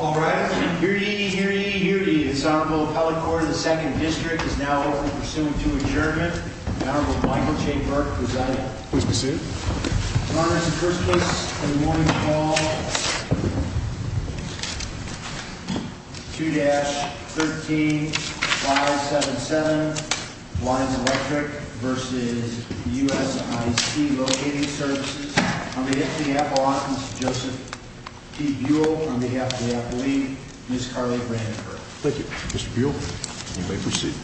All rise. Hear ye, hear ye, hear ye. This Honorable Appellate Court of the Second District is now open for suit to adjournment. The Honorable Michael J. Burke presiding. Please proceed. Your Honor, as the first case of the morning, we call 2-13-577 Lyons Electric v. USIC Locating Services. On behalf of the Appellant, Mr. Joseph T. Buell. On behalf of the Appellee, Ms. Carly Brandenburg. Thank you, Mr. Buell. You may proceed.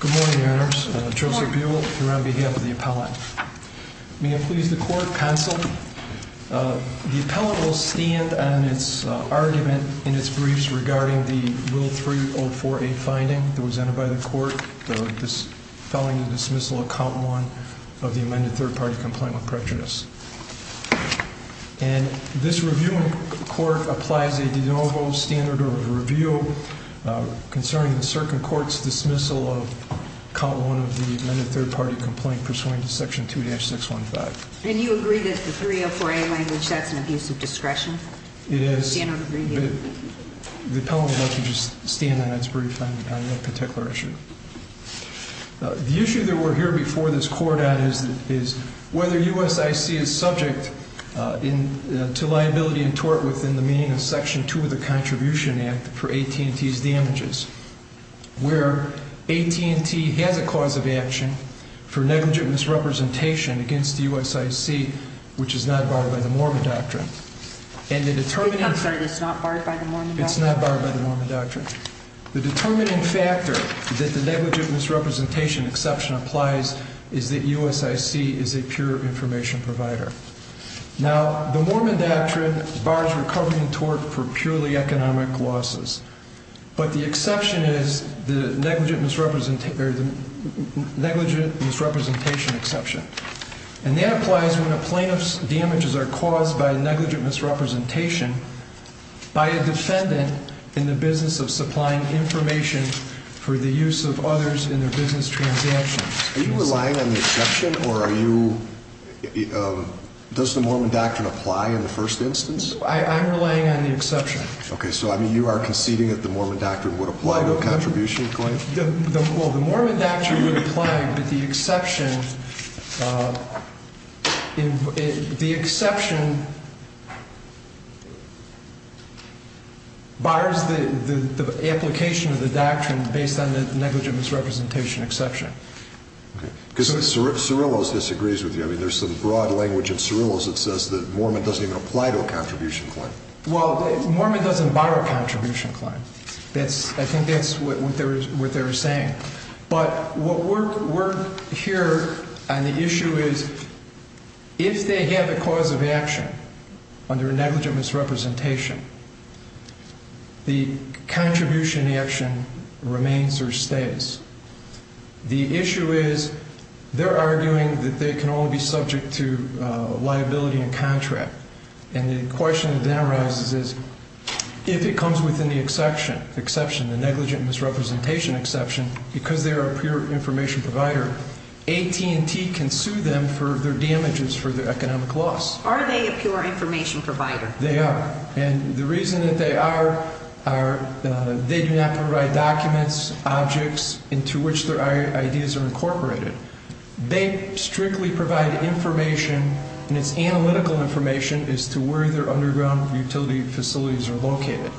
Good morning, Your Honors. Joseph Buell here on behalf of the Appellant. May it please the Court, counsel. The Appellant will stand on its argument in its briefs regarding the Rule 304A finding that was entered by the Court, the dispelling and dismissal of count one of the amended third party complaint with prejudice. And this review in court applies a de novo standard of review concerning the circuit court's dismissal of count one of the amended third party complaint pursuant to section 2-615. And you agree that the 304A language, that's an abuse of discretion? It is. The Appellant will have to just stand on its brief on that particular issue. The issue that we're here before this court on is whether USIC is subject to liability and tort within the meaning of section 2 of the Contribution Act for AT&T's damages, where AT&T has a cause of action for negligent misrepresentation against USIC, which is not barred by the Mormon Doctrine. And the determining- I'm sorry, it's not barred by the Mormon Doctrine? It's not barred by the Mormon Doctrine. The determining factor that the negligent misrepresentation exception applies is that USIC is a pure information provider. Now, the Mormon Doctrine bars recovery and tort for purely economic losses, but the exception is the negligent misrepresentation exception. And that applies when a plaintiff's damages are caused by negligent misrepresentation by a defendant in the business of supplying information for the use of others in their business transactions. Are you relying on the exception, or are you- does the Mormon Doctrine apply in the first instance? I'm relying on the exception. Okay, so I mean you are conceding that the Mormon Doctrine would apply to a contribution claim? Well, the Mormon Doctrine would apply, but the exception- bars the application of the doctrine based on the negligent misrepresentation exception. Okay, because Cerullo's disagrees with you. I mean, there's some broad language in Cerullo's that says that Mormon doesn't even apply to a contribution claim. Well, Mormon doesn't bar a contribution claim. I think that's what they're saying. But what we're here on the issue is, is that if a client has negligent misrepresentation, the contribution action remains or stays. The issue is, they're arguing that they can only be subject to liability and contract. And the question that arises is, if it comes within the exception, the negligent misrepresentation exception, because they're a pure information provider, AT&T can sue them for their damages for their economic loss. Are they a pure information provider? They are. And the reason that they are, they do not provide documents, objects into which their ideas are incorporated. They strictly provide information, and it's analytical information, as to where their underground utility facilities are located.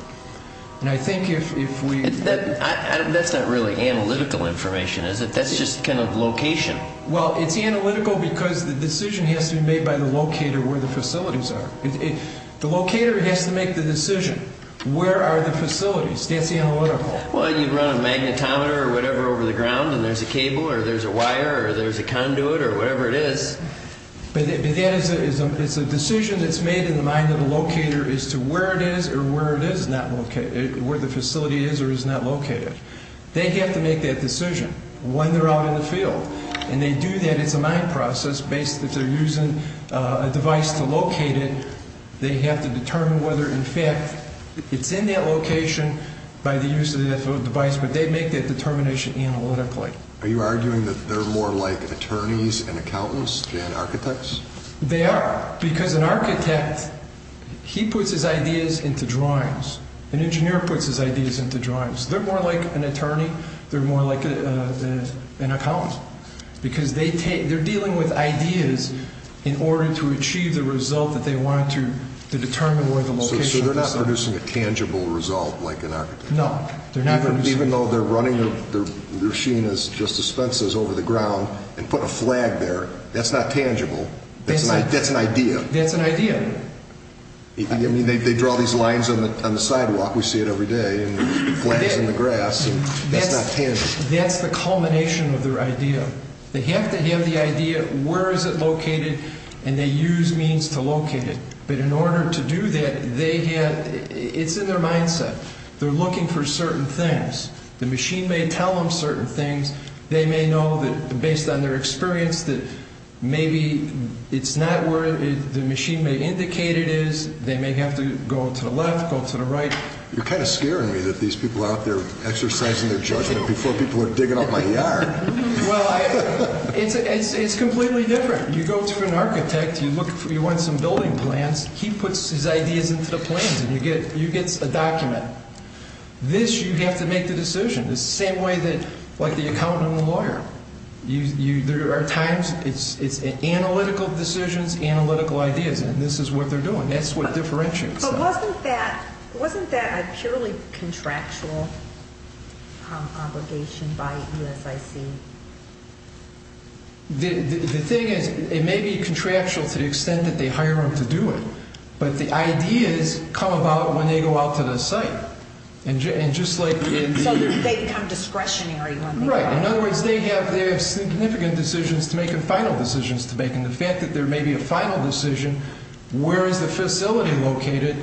And I think if we- That's not really analytical information, is it? That's just kind of location. Well, it's analytical because the decision has to be made by the locator where the facilities are. The locator has to make the decision. Where are the facilities? That's the analytical. Well, you'd run a magnetometer or whatever over the ground, and there's a cable or there's a wire or there's a conduit or whatever it is. But that is a decision that's made in the mind of the locator as to where it is or where it is not located, where the facility is or is not located. They have to make that decision when they're out in the field. And they do that as a mind process, that they're using a device to locate it. They have to determine whether, in fact, it's in that location by the use of that device. But they make that determination analytically. Are you arguing that they're more like attorneys and accountants than architects? They are. Because an architect, he puts his ideas into drawings. An engineer puts his ideas into drawings. They're more like an attorney. They're more like an accountant. Because they're dealing with ideas in order to achieve the result that they want to determine where the location is. So they're not producing a tangible result like an architect. No, they're not. Even though they're running their machine as just dispensers over the ground and put a flag there, that's not tangible. That's an idea. That's an idea. I mean, they draw these lines on the sidewalk. We see it every day, and flags in the grass. That's not tangible. That's the culmination of their idea. They have to have the idea where is it located, and they use means to locate it. But in order to do that, it's in their mindset. They're looking for certain things. The machine may tell them certain things. They may know that, based on their experience, that maybe it's not where the machine may indicate it is. They may have to go to the left, go to the right. You're kind of scaring me that these people out there exercising their judgment before people are digging up my yard. Well, it's completely different. You go to an architect. You want some building plans. He puts his ideas into the plans, and you get a document. This, you have to make the decision. It's the same way like the accountant and the lawyer. There are times it's analytical decisions, analytical ideas, and this is what they're doing. That's what differentiates them. Wasn't that a purely contractual obligation by USIC? The thing is, it may be contractual to the extent that they hire them to do it, but the ideas come about when they go out to the site. So they become discretionary when they go out. Right. In other words, they have significant decisions to make and final decisions to make. The fact that there may be a final decision, where is the facility located,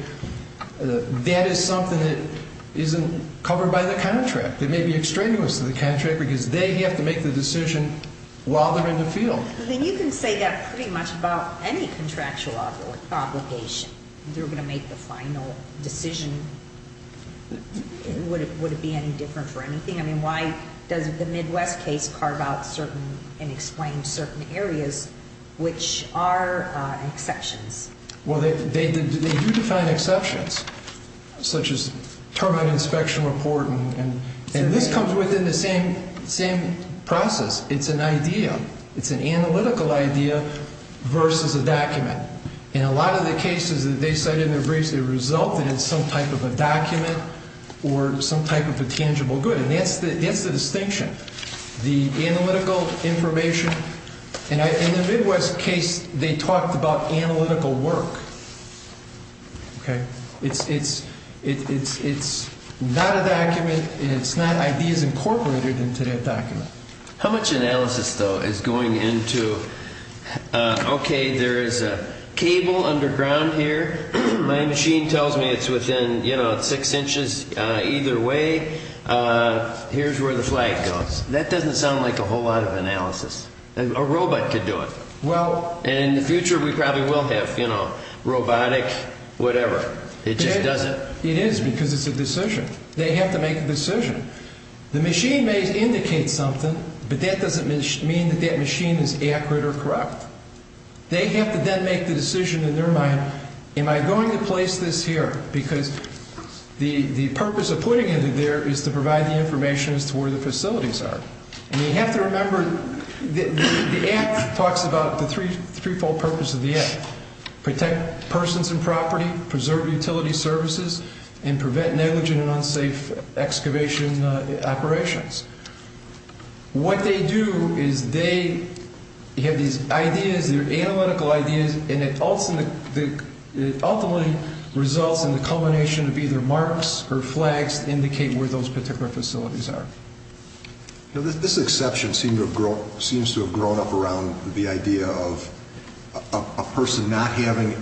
that is something that isn't covered by the contract. It may be extraneous to the contract because they have to make the decision while they're in the field. But then you can say that pretty much about any contractual obligation. They're going to make the final decision. Would it be any different for anything? I mean, why does the Midwest case carve out certain and explain certain areas which are exceptions? Well, they do define exceptions, such as termite inspection report. And this comes within the same process. It's an idea. It's an analytical idea versus a document. In a lot of the cases that they cite in their briefs, they resulted in some type of a document or some type of a tangible good. And that's the distinction. The analytical information. And in the Midwest case, they talked about analytical work. OK, it's not a document. It's not ideas incorporated into that document. How much analysis, though, is going into, OK, there is a cable underground here. My machine tells me it's within six inches either way. OK, here's where the flag goes. That doesn't sound like a whole lot of analysis. A robot could do it. And in the future, we probably will have, you know, robotic whatever. It just doesn't. It is because it's a decision. They have to make a decision. The machine may indicate something, but that doesn't mean that that machine is accurate or correct. They have to then make the decision in their mind, am I going to place this here? Because the purpose of putting it there is to provide the information as to where the facilities are. And you have to remember the app talks about the threefold purpose of the app. Protect persons and property, preserve utility services, and prevent negligent and unsafe excavation operations. What they do is they have these ideas, their analytical ideas, and it ultimately results in the culmination of either marks or flags to indicate where those particular facilities are. This exception seems to have grown up around the idea of a person not having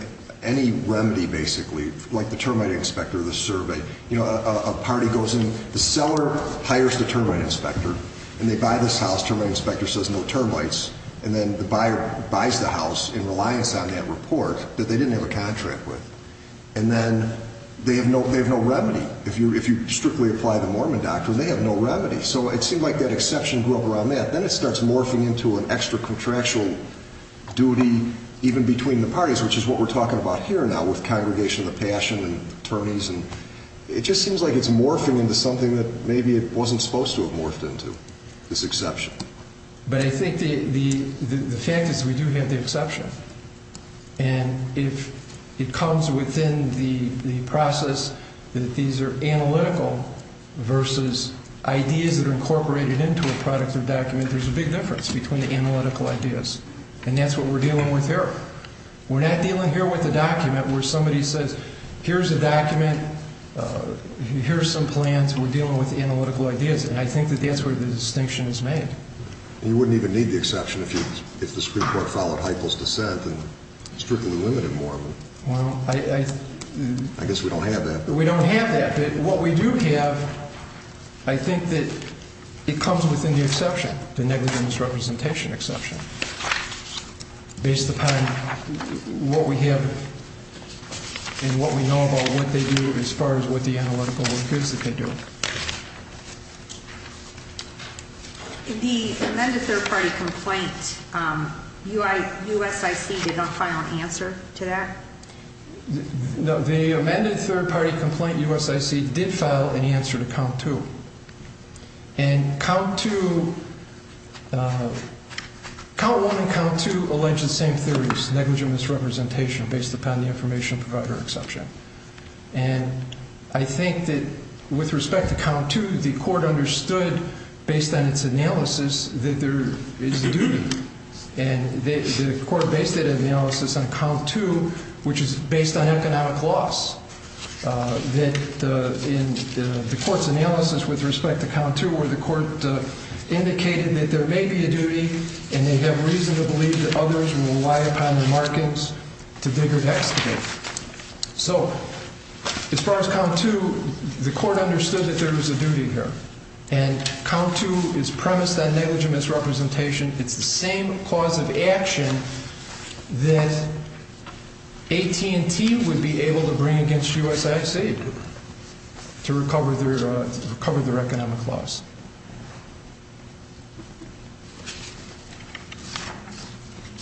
any remedy, basically, like the termite inspector, the survey. You know, a party goes in, the seller hires the termite inspector, and they buy this house. Termite inspector says no termites, and then the buyer buys the house in reliance on that report that they didn't have a contract with. And then they have no remedy. If you strictly apply the Mormon doctrine, they have no remedy. So it seemed like that exception grew up around that. Then it starts morphing into an extra contractual duty even between the parties, which is what we're talking about here now with Congregation of the Passion and attorneys, and it just seems like it's morphing into something that maybe it wasn't supposed to have morphed into, this exception. But I think the fact is we do have the exception. And if it comes within the process that these are analytical versus ideas that are incorporated into a product or document, there's a big difference between the analytical ideas. And that's what we're dealing with here. We're not dealing here with a document where somebody says, here's a document, here's some plans, we're dealing with analytical ideas. And I think that that's where the distinction is made. You wouldn't even need the exception if the Supreme Court followed Heitl's dissent and strictly limited Mormon. I guess we don't have that. But we don't have that. But what we do have, I think that it comes within the exception, the negligence representation exception, based upon what we have and what we know about what they do as far as what the analytical work is that they do. The amended third party complaint, USIC did not file an answer to that? No, the amended third party complaint, USIC, did file an answer to count two. And count one and count two allege the same theories, negligence representation, based upon the information provider exception. And I think that with respect to count two, the court understood, based on its analysis, that there is a duty. And the court based that analysis on count two, which is based on economic loss, that in the court's analysis with respect to count two, where the court indicated that there may be a duty and they have reason to believe that others will rely upon the markings to dig or to excavate. So as far as count two, the court understood that there was a duty here. And count two is premised on negligence representation. It's the same cause of action that AT&T would be able to bring against USIC to recover their economic loss.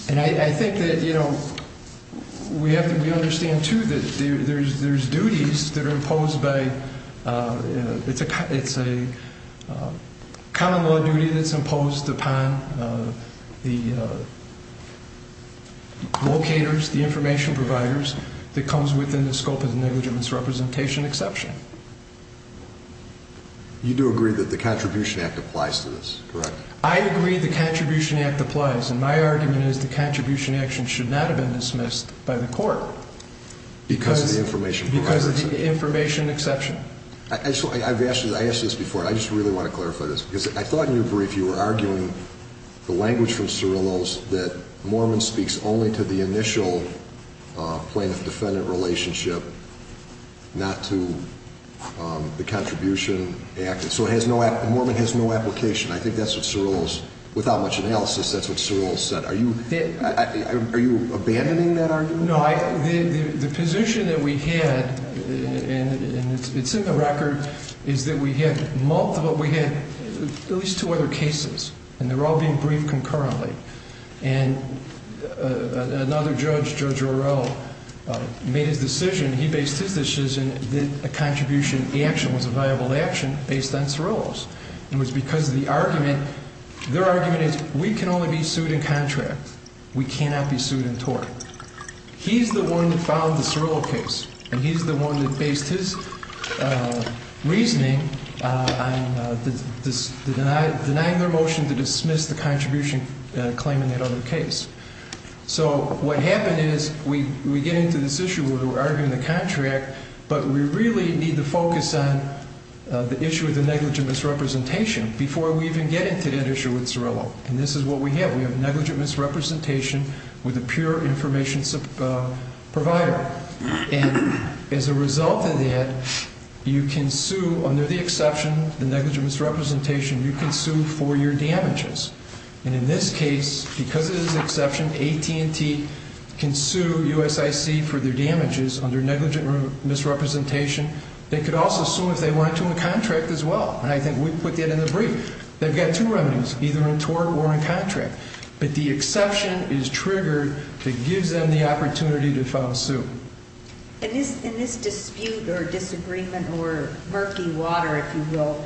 And I think that, you know, we have to understand, too, that there's duties that are imposed by, it's a common law duty that's imposed upon the locators, the information providers that comes within the scope of the negligence representation exception. You do agree that the Contribution Act applies to this, correct? I agree the Contribution Act applies. And my argument is the Contribution Act should not have been dismissed by the court. Because of the information provider exception. Because of the information exception. I've asked you this before, and I just really want to clarify this, because I thought in your brief you were arguing the language from Cerullo's that Mormon speaks only to the Contribution Act. And so it has no, Mormon has no application. I think that's what Cerullo's, without much analysis, that's what Cerullo said. Are you, are you abandoning that argument? No, I, the position that we had, and it's in the record, is that we had multiple, we had at least two other cases. And they're all being briefed concurrently. And another judge, Judge Orell, made his decision. He based his decision that a contribution action was a viable action based on Cerullo's. And it was because of the argument, their argument is we can only be sued in contract. We cannot be sued in tort. He's the one that filed the Cerullo case. And he's the one that based his reasoning on the denying their motion to dismiss the claim in that other case. So what happened is we get into this issue where we're arguing the contract, but we really need to focus on the issue of the negligent misrepresentation before we even get into that issue with Cerullo. And this is what we have. We have negligent misrepresentation with a pure information provider. And as a result of that, you can sue under the exception, the negligent misrepresentation, you can sue for your damages. And in this case, because it is an exception, AT&T can sue USIC for their damages under negligent misrepresentation. They could also sue if they want to in contract as well. And I think we put that in the brief. They've got two remedies, either in tort or in contract. But the exception is triggered that gives them the opportunity to file a sue. And this dispute or disagreement or murky water, if you will,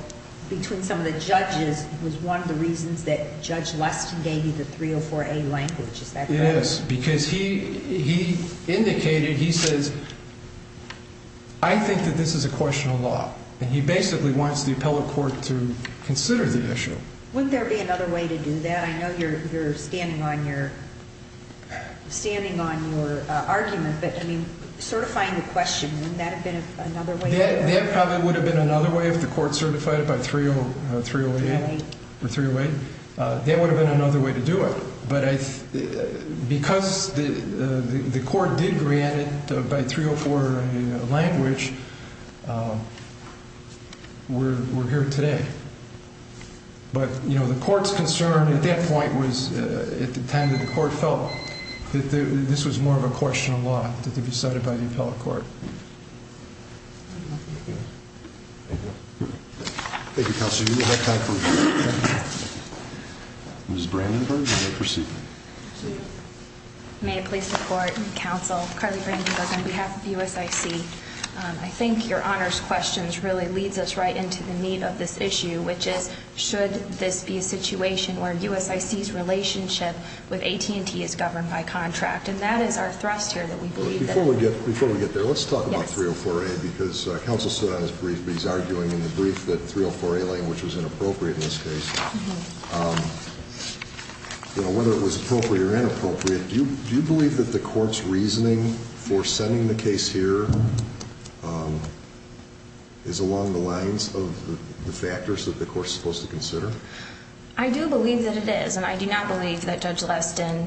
between some of the judges was one of the reasons that Judge Leston gave you the 304A language. Is that correct? Yes, because he indicated, he says, I think that this is a question of law. And he basically wants the appellate court to consider the issue. Wouldn't there be another way to do that? I know you're standing on your argument. But I mean, certifying the question, wouldn't that have been another way? That probably would have been another way if the court certified it by 308. That would have been another way to do it. But because the court did grant it by 304 language, we're here today. But the court's concern at that point was at the time that the court felt that this was more of a question of law to be decided by the appellate court. Thank you. Thank you, Counselor. We will have time for questions. Ms. Brandenburg, you may proceed. May I please report, Counsel, Carly Brandenburg on behalf of USIC. I think your honors questions really leads us right into the meat of this issue, which is, should this be a situation where USIC's relationship with AT&T is governed by contract? And that is our thrust here, that we believe that. Before we get there, let's talk about 304A. Because Counsel stood on his brief, but he's arguing in the brief that 304A language was inappropriate in this case. You know, whether it was appropriate or inappropriate, do you believe that the court's reasoning for sending the case here is along the lines of the factors that the court's supposed to consider? I do believe that it is. And I do not believe that Judge Leston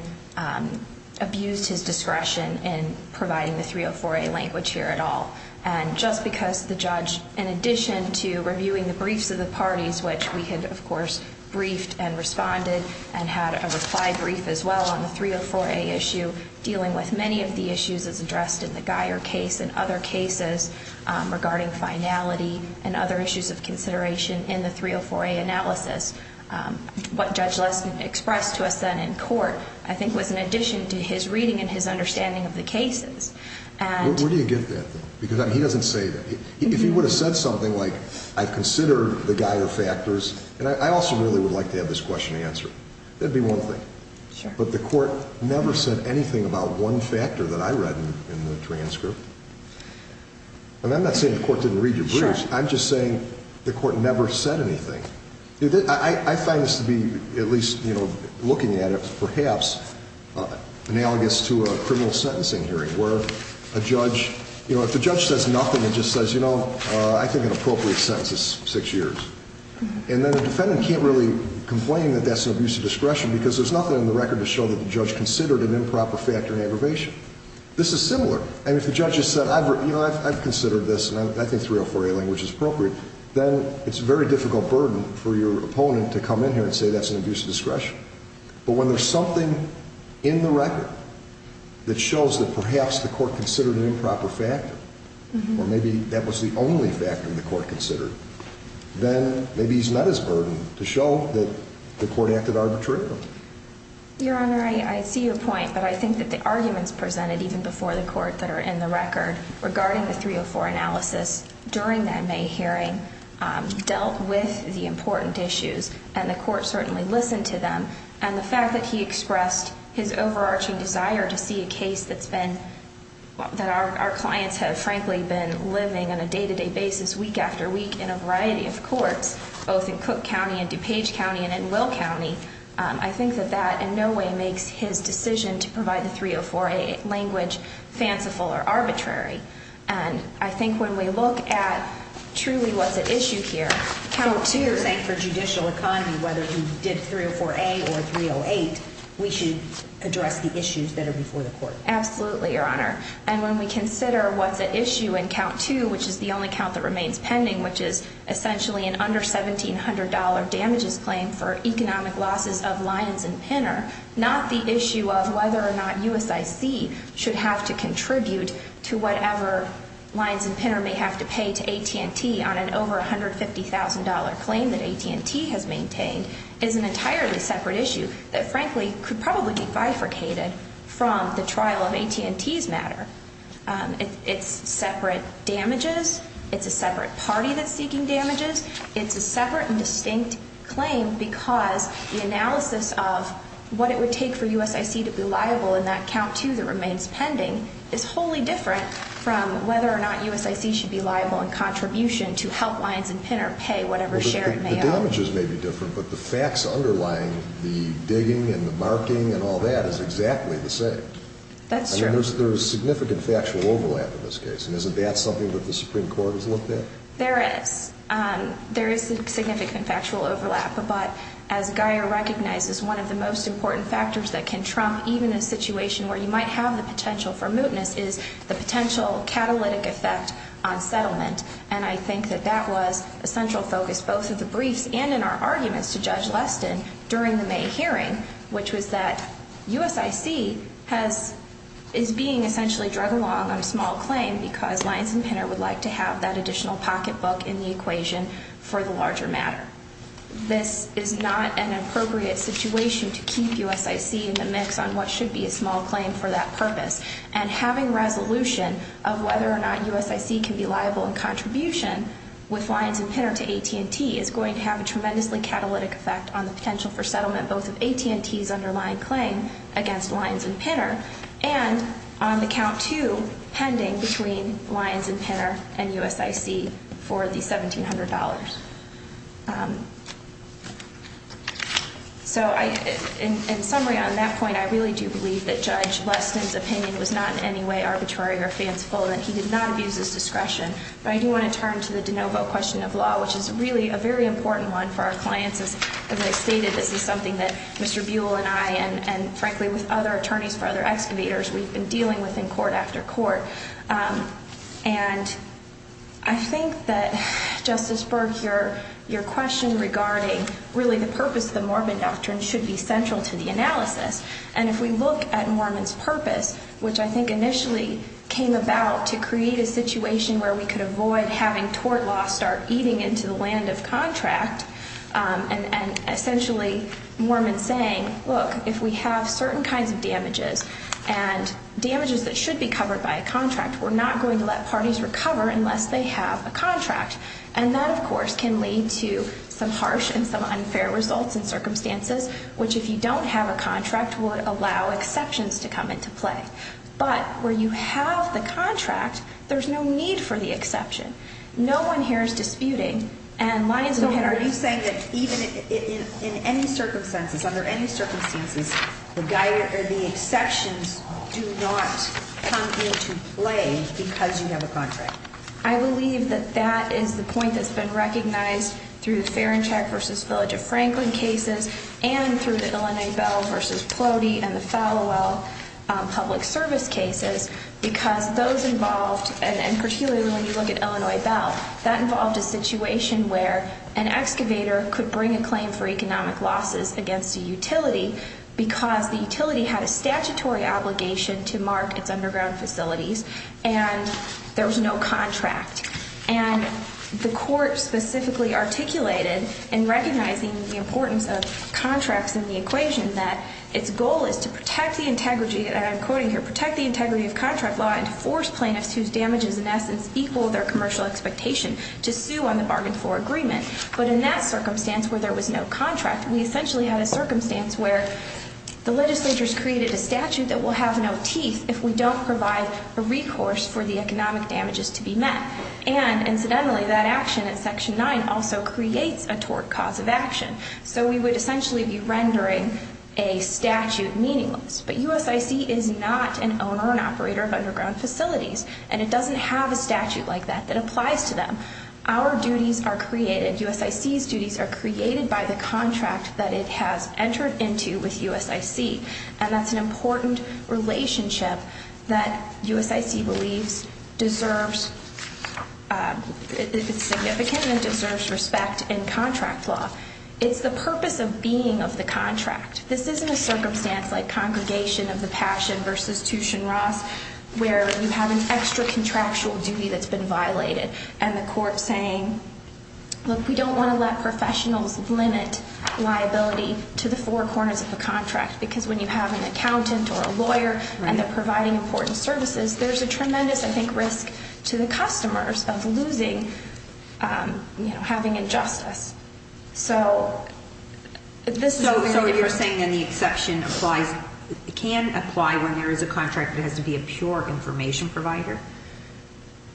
abused his discretion in providing the 304A language here at all. And just because the judge, in addition to reviewing the briefs of the parties, which we had, of course, briefed and responded and had a reply brief as well on the 304A issue, dealing with many of the issues as addressed in the Geier case and other cases regarding finality and other issues of consideration in the 304A analysis, what Judge Leston expressed to us then in court, I think, was in addition to his reading and his understanding of the cases. Where do you get that, though? Because he doesn't say that. If he would have said something like, I consider the Geier factors. And I also really would like to have this question answered. That'd be one thing. But the court never said anything about one factor that I read in the transcript. And I'm not saying the court didn't read your briefs. I'm just saying the court never said anything. I find this to be, at least looking at it, perhaps analogous to a criminal sentencing hearing where a judge, you know, if the judge says nothing and just says, you know, I think an appropriate sentence is six years. And then the defendant can't really complain that that's an abuse of discretion because there's nothing in the record to show that the judge considered an improper factor in aggravation. This is similar. And if the judge has said, you know, I've considered this, and I think 304A language is appropriate, then it's a very difficult burden for your opponent to come in here and say that's an abuse of discretion. But when there's something in the record that shows that perhaps the court considered an improper factor, or maybe that was the only factor the court considered, then maybe he's not as burdened to show that the court acted arbitrarily. Your Honor, I see your point. But I think that the arguments presented even before the court that are in the record regarding the 304 analysis during that May hearing dealt with the important issues. And the court certainly listened to them. And the fact that he expressed his overarching desire to see a case that's been, that our clients have, frankly, been living on a day-to-day basis week after week in a variety of courts, both in Cook County and DuPage County and in Will County, I think that that in no way makes his decision to provide the 304A language fanciful or arbitrary. And I think when we look at truly what's at issue here, count two. You're saying for judicial economy, whether he did 304A or 308, we should address the issues that are before the court. Absolutely, Your Honor. And when we consider what's at issue in count two, which is the only count that remains pending, which is essentially an under $1,700 damages claim for economic losses of Lyons and Pinner, not the issue of whether or not USIC should have to contribute to whatever Lyons and Pinner may have to pay to AT&T on an over $150,000 claim that AT&T has maintained, is an entirely separate issue that, frankly, could probably be bifurcated from the trial of AT&T's matter. It's separate damages. It's a separate party that's seeking damages. It's a separate and distinct claim because the analysis of what it would take for USIC to be liable in that count two that remains pending is wholly different from whether or not USIC should be liable in contribution to help Lyons and Pinner pay whatever share it may owe. The damages may be different, but the facts underlying the digging and the marking and all that is exactly the same. That's true. There's significant factual overlap in this case. And isn't that something that the Supreme Court has looked at? There is. There is significant factual overlap. But as Gaia recognizes, one of the most important factors that can trump even a situation where you might have the potential for mootness is the potential catalytic effect on settlement. And I think that that was a central focus both of the briefs and in our arguments to Judge Leston during the May hearing, which was that USIC is being essentially drug along on a small claim because Lyons and Pinner would like to have that additional pocket book in the equation for the larger matter. This is not an appropriate situation to keep USIC in the mix on what should be a small claim for that purpose. And having resolution of whether or not USIC can be liable in contribution with Lyons and Pinner to AT&T is going to have a tremendously catalytic effect on the potential for settlement both of AT&T's underlying claim against Lyons and Pinner and on the count two pending between Lyons and Pinner and USIC for the $1,700. So in summary on that point, I really do believe that Judge Leston's opinion was not in any way arbitrary or fanciful and that he did not abuse his discretion. But I do want to turn to the de novo question of law, which is really a very important one for our clients. As I stated, this is something that Mr. Buell and I and frankly with other attorneys for other excavators we've been dealing with in court after court. And I think that, Justice Berg, your question regarding really the purpose of the Mormon doctrine should be central to the analysis. And if we look at Mormon's purpose, which I think initially came about to create a situation where we could avoid having tort law start eating into the land of contract and essentially Mormon saying, look, if we have certain kinds of damages and damages that should be covered by a contract, we're not going to let parties recover unless they have a contract. And that, of course, can lead to some harsh and some unfair results and circumstances, which if you don't have a contract would allow exceptions to come into play. But where you have the contract, there's no need for the exception. No one here is disputing. And Lyons and Pinner are saying that even in any circumstances, under any circumstances, the exceptions do not come into play because you have a contract. I believe that that is the point that's been recognized through the Ferenczak versus Village of Franklin cases and through the Illinois Bell versus Plotie and the Falwell public service cases because those involved, and particularly when you look at Illinois Bell, that involved a situation where an excavator could bring a claim for economic losses against a utility because the utility had a statutory obligation to mark its underground facilities and there was no contract. And the court specifically articulated in recognizing the importance of contracts in the equation that its goal is to protect the integrity, and I'm quoting here, protect the integrity of contract law and force plaintiffs whose damages in essence equal their commercial expectation to sue on the bargain floor agreement. But in that circumstance where there was no contract, we essentially had a circumstance where the legislatures created a statute that will have no teeth if we don't provide a recourse for the economic damages to be met. And incidentally, that action in section 9 also creates a tort cause of action. So we would essentially be rendering a statute meaningless. But USIC is not an owner and operator of underground facilities, and it doesn't have a statute like that that applies to them. Our duties are created, USIC's duties are created by the contract that it has entered into with USIC. And that's an important relationship that USIC believes deserves, it's significant and deserves respect in contract law. It's the purpose of being of the contract. This isn't a circumstance like Congregation of the Passion versus Tushin Ross where you have a contractual duty that's been violated and the court saying, look, we don't want to let professionals limit liability to the four corners of the contract. Because when you have an accountant or a lawyer and they're providing important services, there's a tremendous, I think, risk to the customers of losing, you know, having injustice. So this is what you're saying then the exception applies, can apply when there is a contract and it has to be a pure information provider?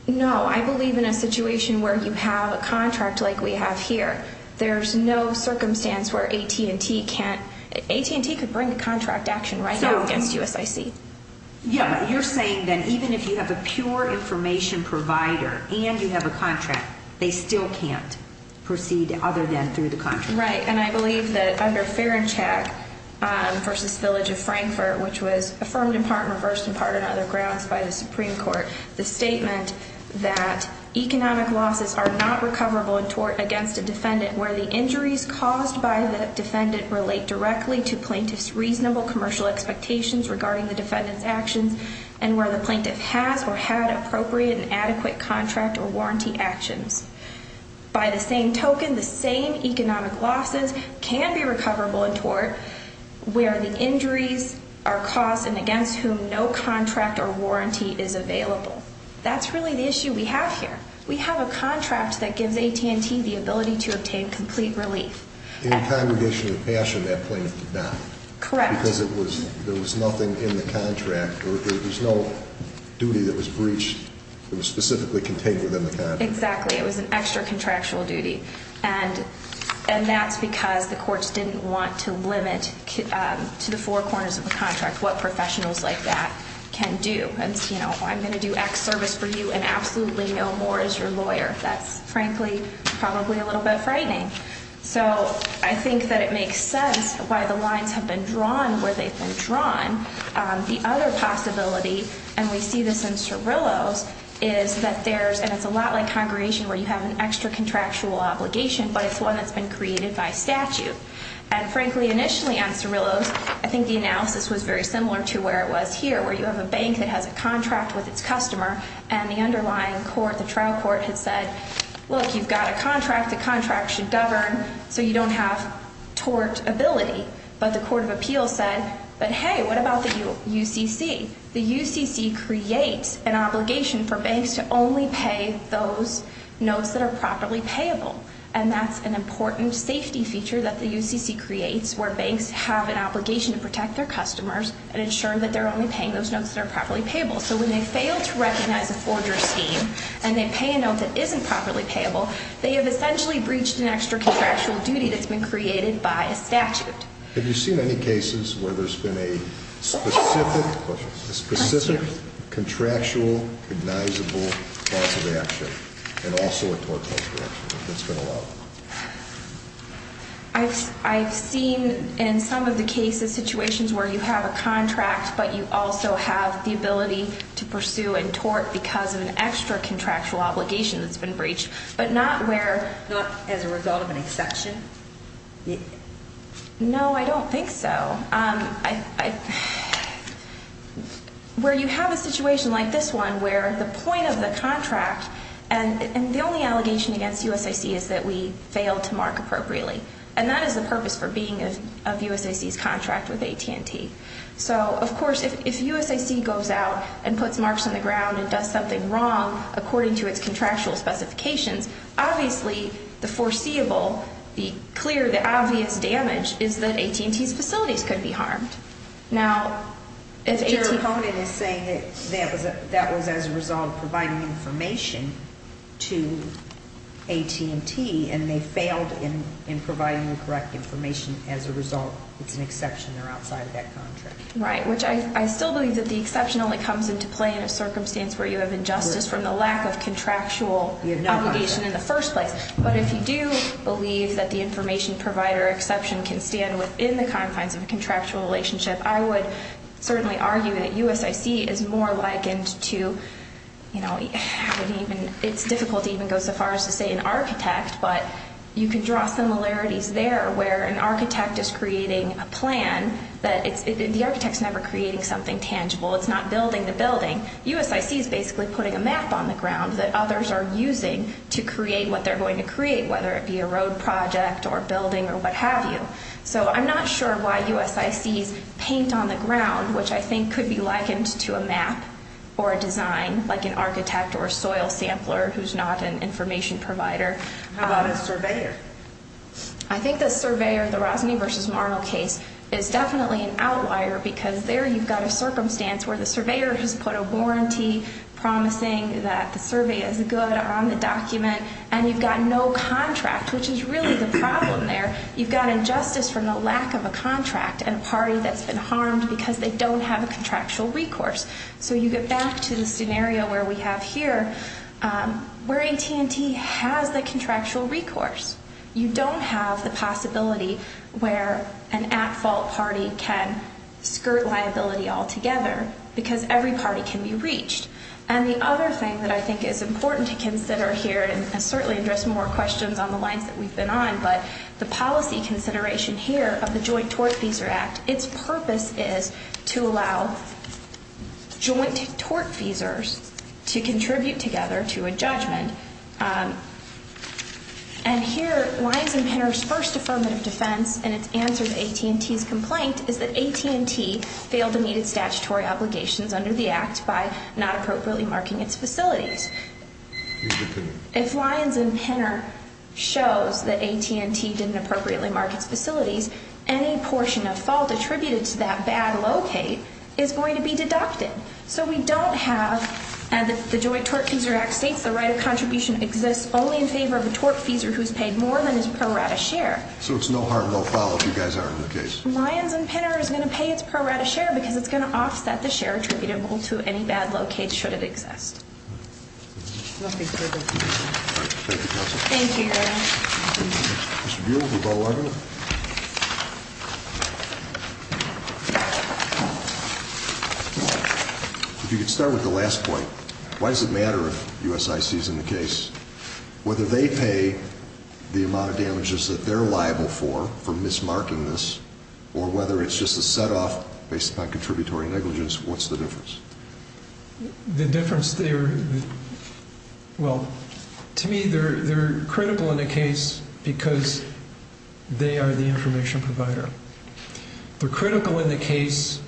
No, I believe in a situation where you have a contract like we have here, there's no circumstance where AT&T can't, AT&T could bring a contract action right now against USIC. Yeah, but you're saying that even if you have a pure information provider and you have a contract, they still can't proceed other than through the contract? Right, and I believe that under Fair and Check versus Village of Frankfurt, which was affirmed in part and reversed in part on other grounds by the Supreme Court, the statement that economic losses are not recoverable in tort against a defendant where the injuries caused by the defendant relate directly to plaintiff's reasonable commercial expectations regarding the defendant's actions and where the plaintiff has or had appropriate and adequate contract or warranty actions. By the same token, the same economic losses can be recoverable in tort where the injuries are caused and against whom no contract or warranty is available. That's really the issue we have here. We have a contract that gives AT&T the ability to obtain complete relief. In Congregation of Passion, that plaintiff did not. Correct. Because there was nothing in the contract or there was no duty that was breached that was specifically contained within the contract. Exactly, it was an extra contractual duty and that's because the courts didn't want to limit to the four corners of the contract what professionals like that can do. It's, you know, I'm going to do X service for you and absolutely no more as your lawyer. That's frankly probably a little bit frightening. So I think that it makes sense why the lines have been drawn where they've been drawn. The other possibility, and we see this in Cirillo's, is that there's, and it's a lot like Congregation where you have an extra contractual obligation, but it's one that's been created by statute. And frankly, initially on Cirillo's, I think the analysis was very similar to where it was here, where you have a bank that has a contract with its customer and the underlying court, the trial court, had said, look, you've got a contract, the contract should govern so you don't have tort ability. But the court of appeals said, but hey, what about the UCC? The UCC creates an obligation for banks to only pay those notes that are properly payable. And that's an important safety feature that the UCC creates where banks have an obligation to protect their customers and ensure that they're only paying those notes that are properly payable. So when they fail to recognize a forger scheme and they pay a note that isn't properly payable, they have essentially breached an extra contractual duty that's been created by a statute. Have you seen any cases where there's been a specific, a specific contractual cognizable cause of action and also a tort cause of action that's been allowed? I've, I've seen in some of the cases, situations where you have a contract, but you also have the ability to pursue and tort because of an extra contractual obligation that's been breached, but not where. Not as a result of an exception? No, I don't think so. I, I, where you have a situation like this one, where the point of the contract and the only allegation against USAC is that we failed to mark appropriately. And that is the purpose for being of USAC's contract with AT&T. So of course, if USAC goes out and puts marks on the ground and does something wrong, according to its contractual specifications, obviously the foreseeable, the clear, the obvious damage is that AT&T's facilities could be harmed. Now, if AT&T. But your opponent is saying that that was, that was as a result of providing information to AT&T and they failed in, in providing the correct information as a result, it's an exception. They're outside of that contract. Right. Which I, I still believe that the exception only comes into play in a circumstance where you have injustice from the lack of contractual obligation in the first place. But if you do believe that the information provider exception can stand within the confines of a contractual relationship, I would certainly argue that USAC is more likened to, you know, I would even, it's difficult to even go so far as to say an architect, but you can draw similarities there where an architect is creating a plan that it's, the architect's never creating something tangible. It's not building the building. USAC is basically putting a map on the ground that others are using to create what they're going to create, whether it be a road project or building or what have you. So I'm not sure why USACs paint on the ground, which I think could be likened to a map or a design like an architect or soil sampler, who's not an information provider. How about a surveyor? I think the surveyor, the Rosny versus Marnell case is definitely an outlier because there you've got a circumstance where the surveyor has put a warranty promising that the survey is good on the document and you've got no contract, which is really the problem there. You've got injustice from the lack of a contract and a party that's been harmed because they don't have a contractual recourse. So you get back to the scenario where we have here where AT&T has the contractual recourse. You don't have the possibility where an at-fault party can skirt liability altogether because every party can be reached. And the other thing that I think is important to consider here, and certainly address more questions on the lines that we've been on, but the policy consideration here of the Joint Tort Feeser Act, its purpose is to allow joint tort feesers to contribute together to a judgment. And here Lyons and Penner's first affirmative defense in its answer to AT&T's complaint is that AT&T failed to meet its statutory obligations under the act by not appropriately marking its facilities. If Lyons and Penner shows that AT&T didn't appropriately mark its facilities, any portion of fault attributed to that bad locate is going to be deducted. So we don't have, and the Joint Tort Feeser Act states the right of contribution exists only in favor of a tort feeser who's paid more than his pro rata share. So it's no harm, no foul if you guys are in the case. Lyons and Penner is going to pay its pro rata share because it's going to offset the share attributable to any bad locate, should it exist. All right, thank you, counsel. Thank you, Your Honor. Mr. Buell, would you like to log in? If you could start with the last point. Why does it matter if USIC is in the case? Whether they pay the amount of damages that they're liable for, for mismarking this, or whether it's just a set off based upon contributory negligence, what's the difference? The difference there, well, to me, they're critical in the case because they are the information provider. They're critical in the case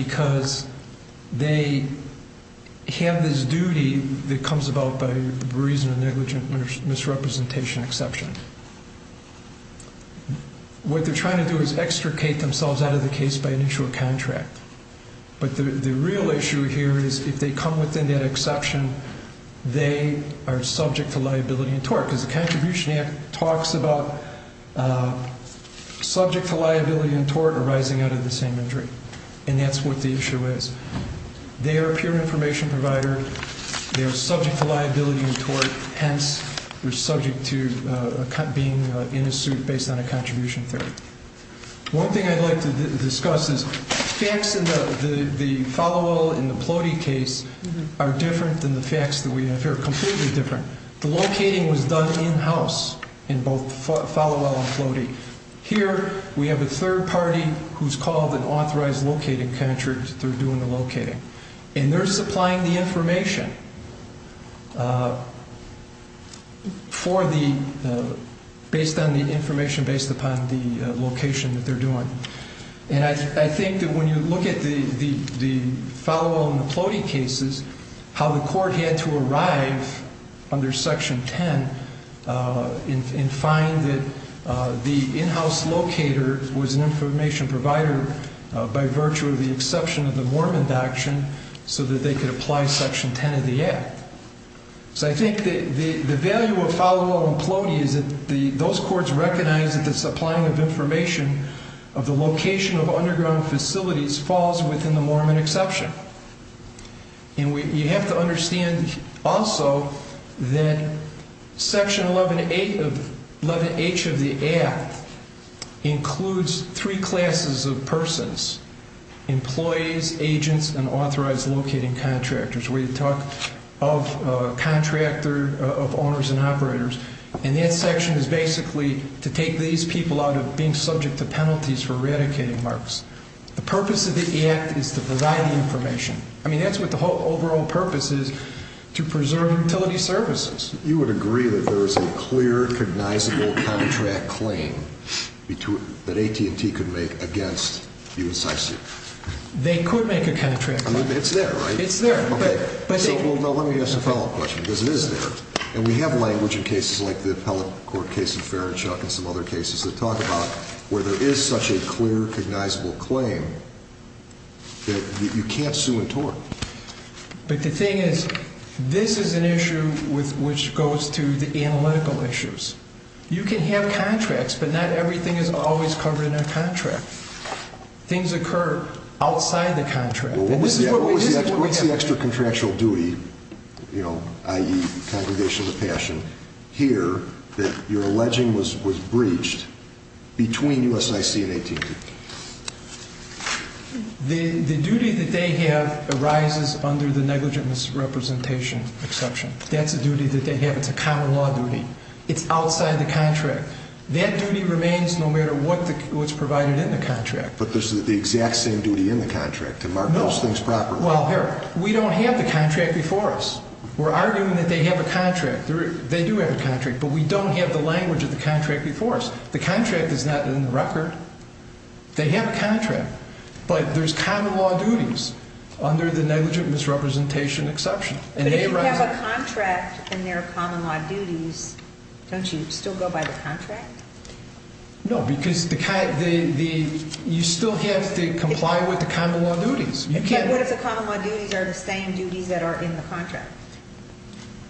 because they have this duty that comes about by reason of negligent misrepresentation exception. What they're trying to do is extricate themselves out of the case by initial contract. But the real issue here is if they come within that exception, they are subject to liability and tort because the Contribution Act talks about subject to liability and tort arising out of the same injury. And that's what the issue is. They are a pure information provider. They are subject to liability and tort. Hence, they're subject to being in a suit based on a contribution theory. One thing I'd like to discuss is facts in the Falwell and the Plohde case are different than the facts that we have here, completely different. The locating was done in-house in both Falwell and Plohde. Here, we have a third party who's called an authorized locating contract. They're doing the locating. And they're supplying the information based on the information based upon the location that they're doing. And I think that when you look at the Falwell and the Plohde cases, how the court had to apply section 10 and find that the in-house locator was an information provider by virtue of the exception of the Mormon action so that they could apply section 10 of the act. So I think the value of Falwell and Plohde is that those courts recognize that the supplying of information of the location of underground facilities falls within the Mormon exception. And you have to understand also that section 11H of the act includes three classes of persons, employees, agents, and authorized locating contractors. We talk of contractor, of owners and operators, and that section is basically to take these people out of being subject to penalties for eradicating marks. The purpose of the act is to provide the information. I mean, that's what the whole overall purpose is, to preserve utility services. You would agree that there is a clear, cognizable contract claim that AT&T could make against USCISU? They could make a contract claim. It's there, right? It's there. Okay, so let me ask a follow-up question because it is there. And we have language in cases like the appellate court case in Fairchurch and some other cases that talk about where there is such a clear, cognizable claim that you can't sue and tort. But the thing is, this is an issue which goes to the analytical issues. You can have contracts, but not everything is always covered in a contract. Things occur outside the contract. Well, what's the extra contractual duty, you know, i.e. Congregation of the Passion, here that you're alleging was breached between USIC and AT&T? The duty that they have arises under the negligent misrepresentation exception. That's a duty that they have. It's a common law duty. It's outside the contract. That duty remains no matter what's provided in the contract. But there's the exact same duty in the contract to mark those things properly. Well, here, we don't have the contract before us. We're arguing that they have a contract. They do have a contract, but we don't have the language of the contract before us. The contract is not in the record. They have a contract, but there's common law duties under the negligent misrepresentation exception. But if you have a contract and there are common law duties, don't you still go by the contract? No, because you still have to comply with the common law duties. But what if the common law duties are the same duties that are in the contract?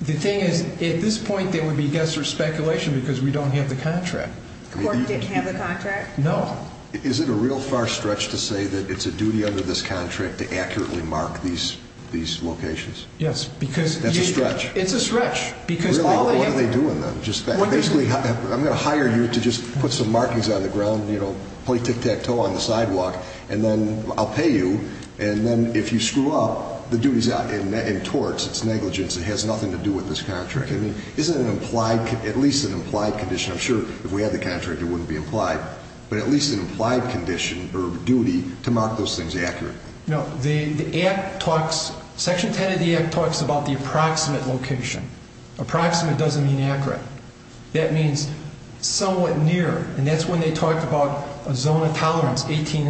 The thing is, at this point, there would be guess or speculation because we don't have the contract. The court didn't have the contract? No. Is it a real far stretch to say that it's a duty under this contract to accurately mark these locations? Yes, because... That's a stretch. It's a stretch because... Really, what are they doing then? Just basically, I'm going to hire you to just put some markings on the ground, you know, play tic-tac-toe on the sidewalk, and then I'll pay you. And then if you screw up, the duty's out. In torts, it's negligence. It has nothing to do with this contract. I mean, isn't it at least an implied condition? I'm sure if we had the contract, it wouldn't be implied. But at least an implied condition or duty to mark those things accurately. No. Section 10 of the Act talks about the approximate location. Approximate doesn't mean accurate. That means somewhat near, and that's when they talked about a zone of tolerance, 18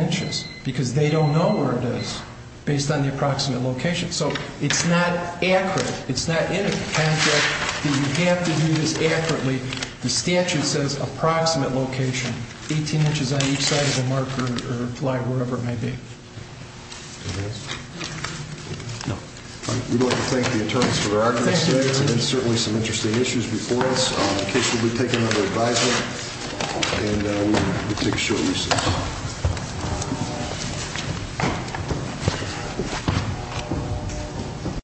based on the approximate location. So it's not accurate. It's not in a contract that you have to do this accurately. The statute says approximate location, 18 inches on each side of the marker, or fly wherever it may be. No. All right. We'd like to thank the attorneys for their arguments today, and certainly some interesting issues before us. The case will be taken under advisement, and we'll take a short recess. Thank you.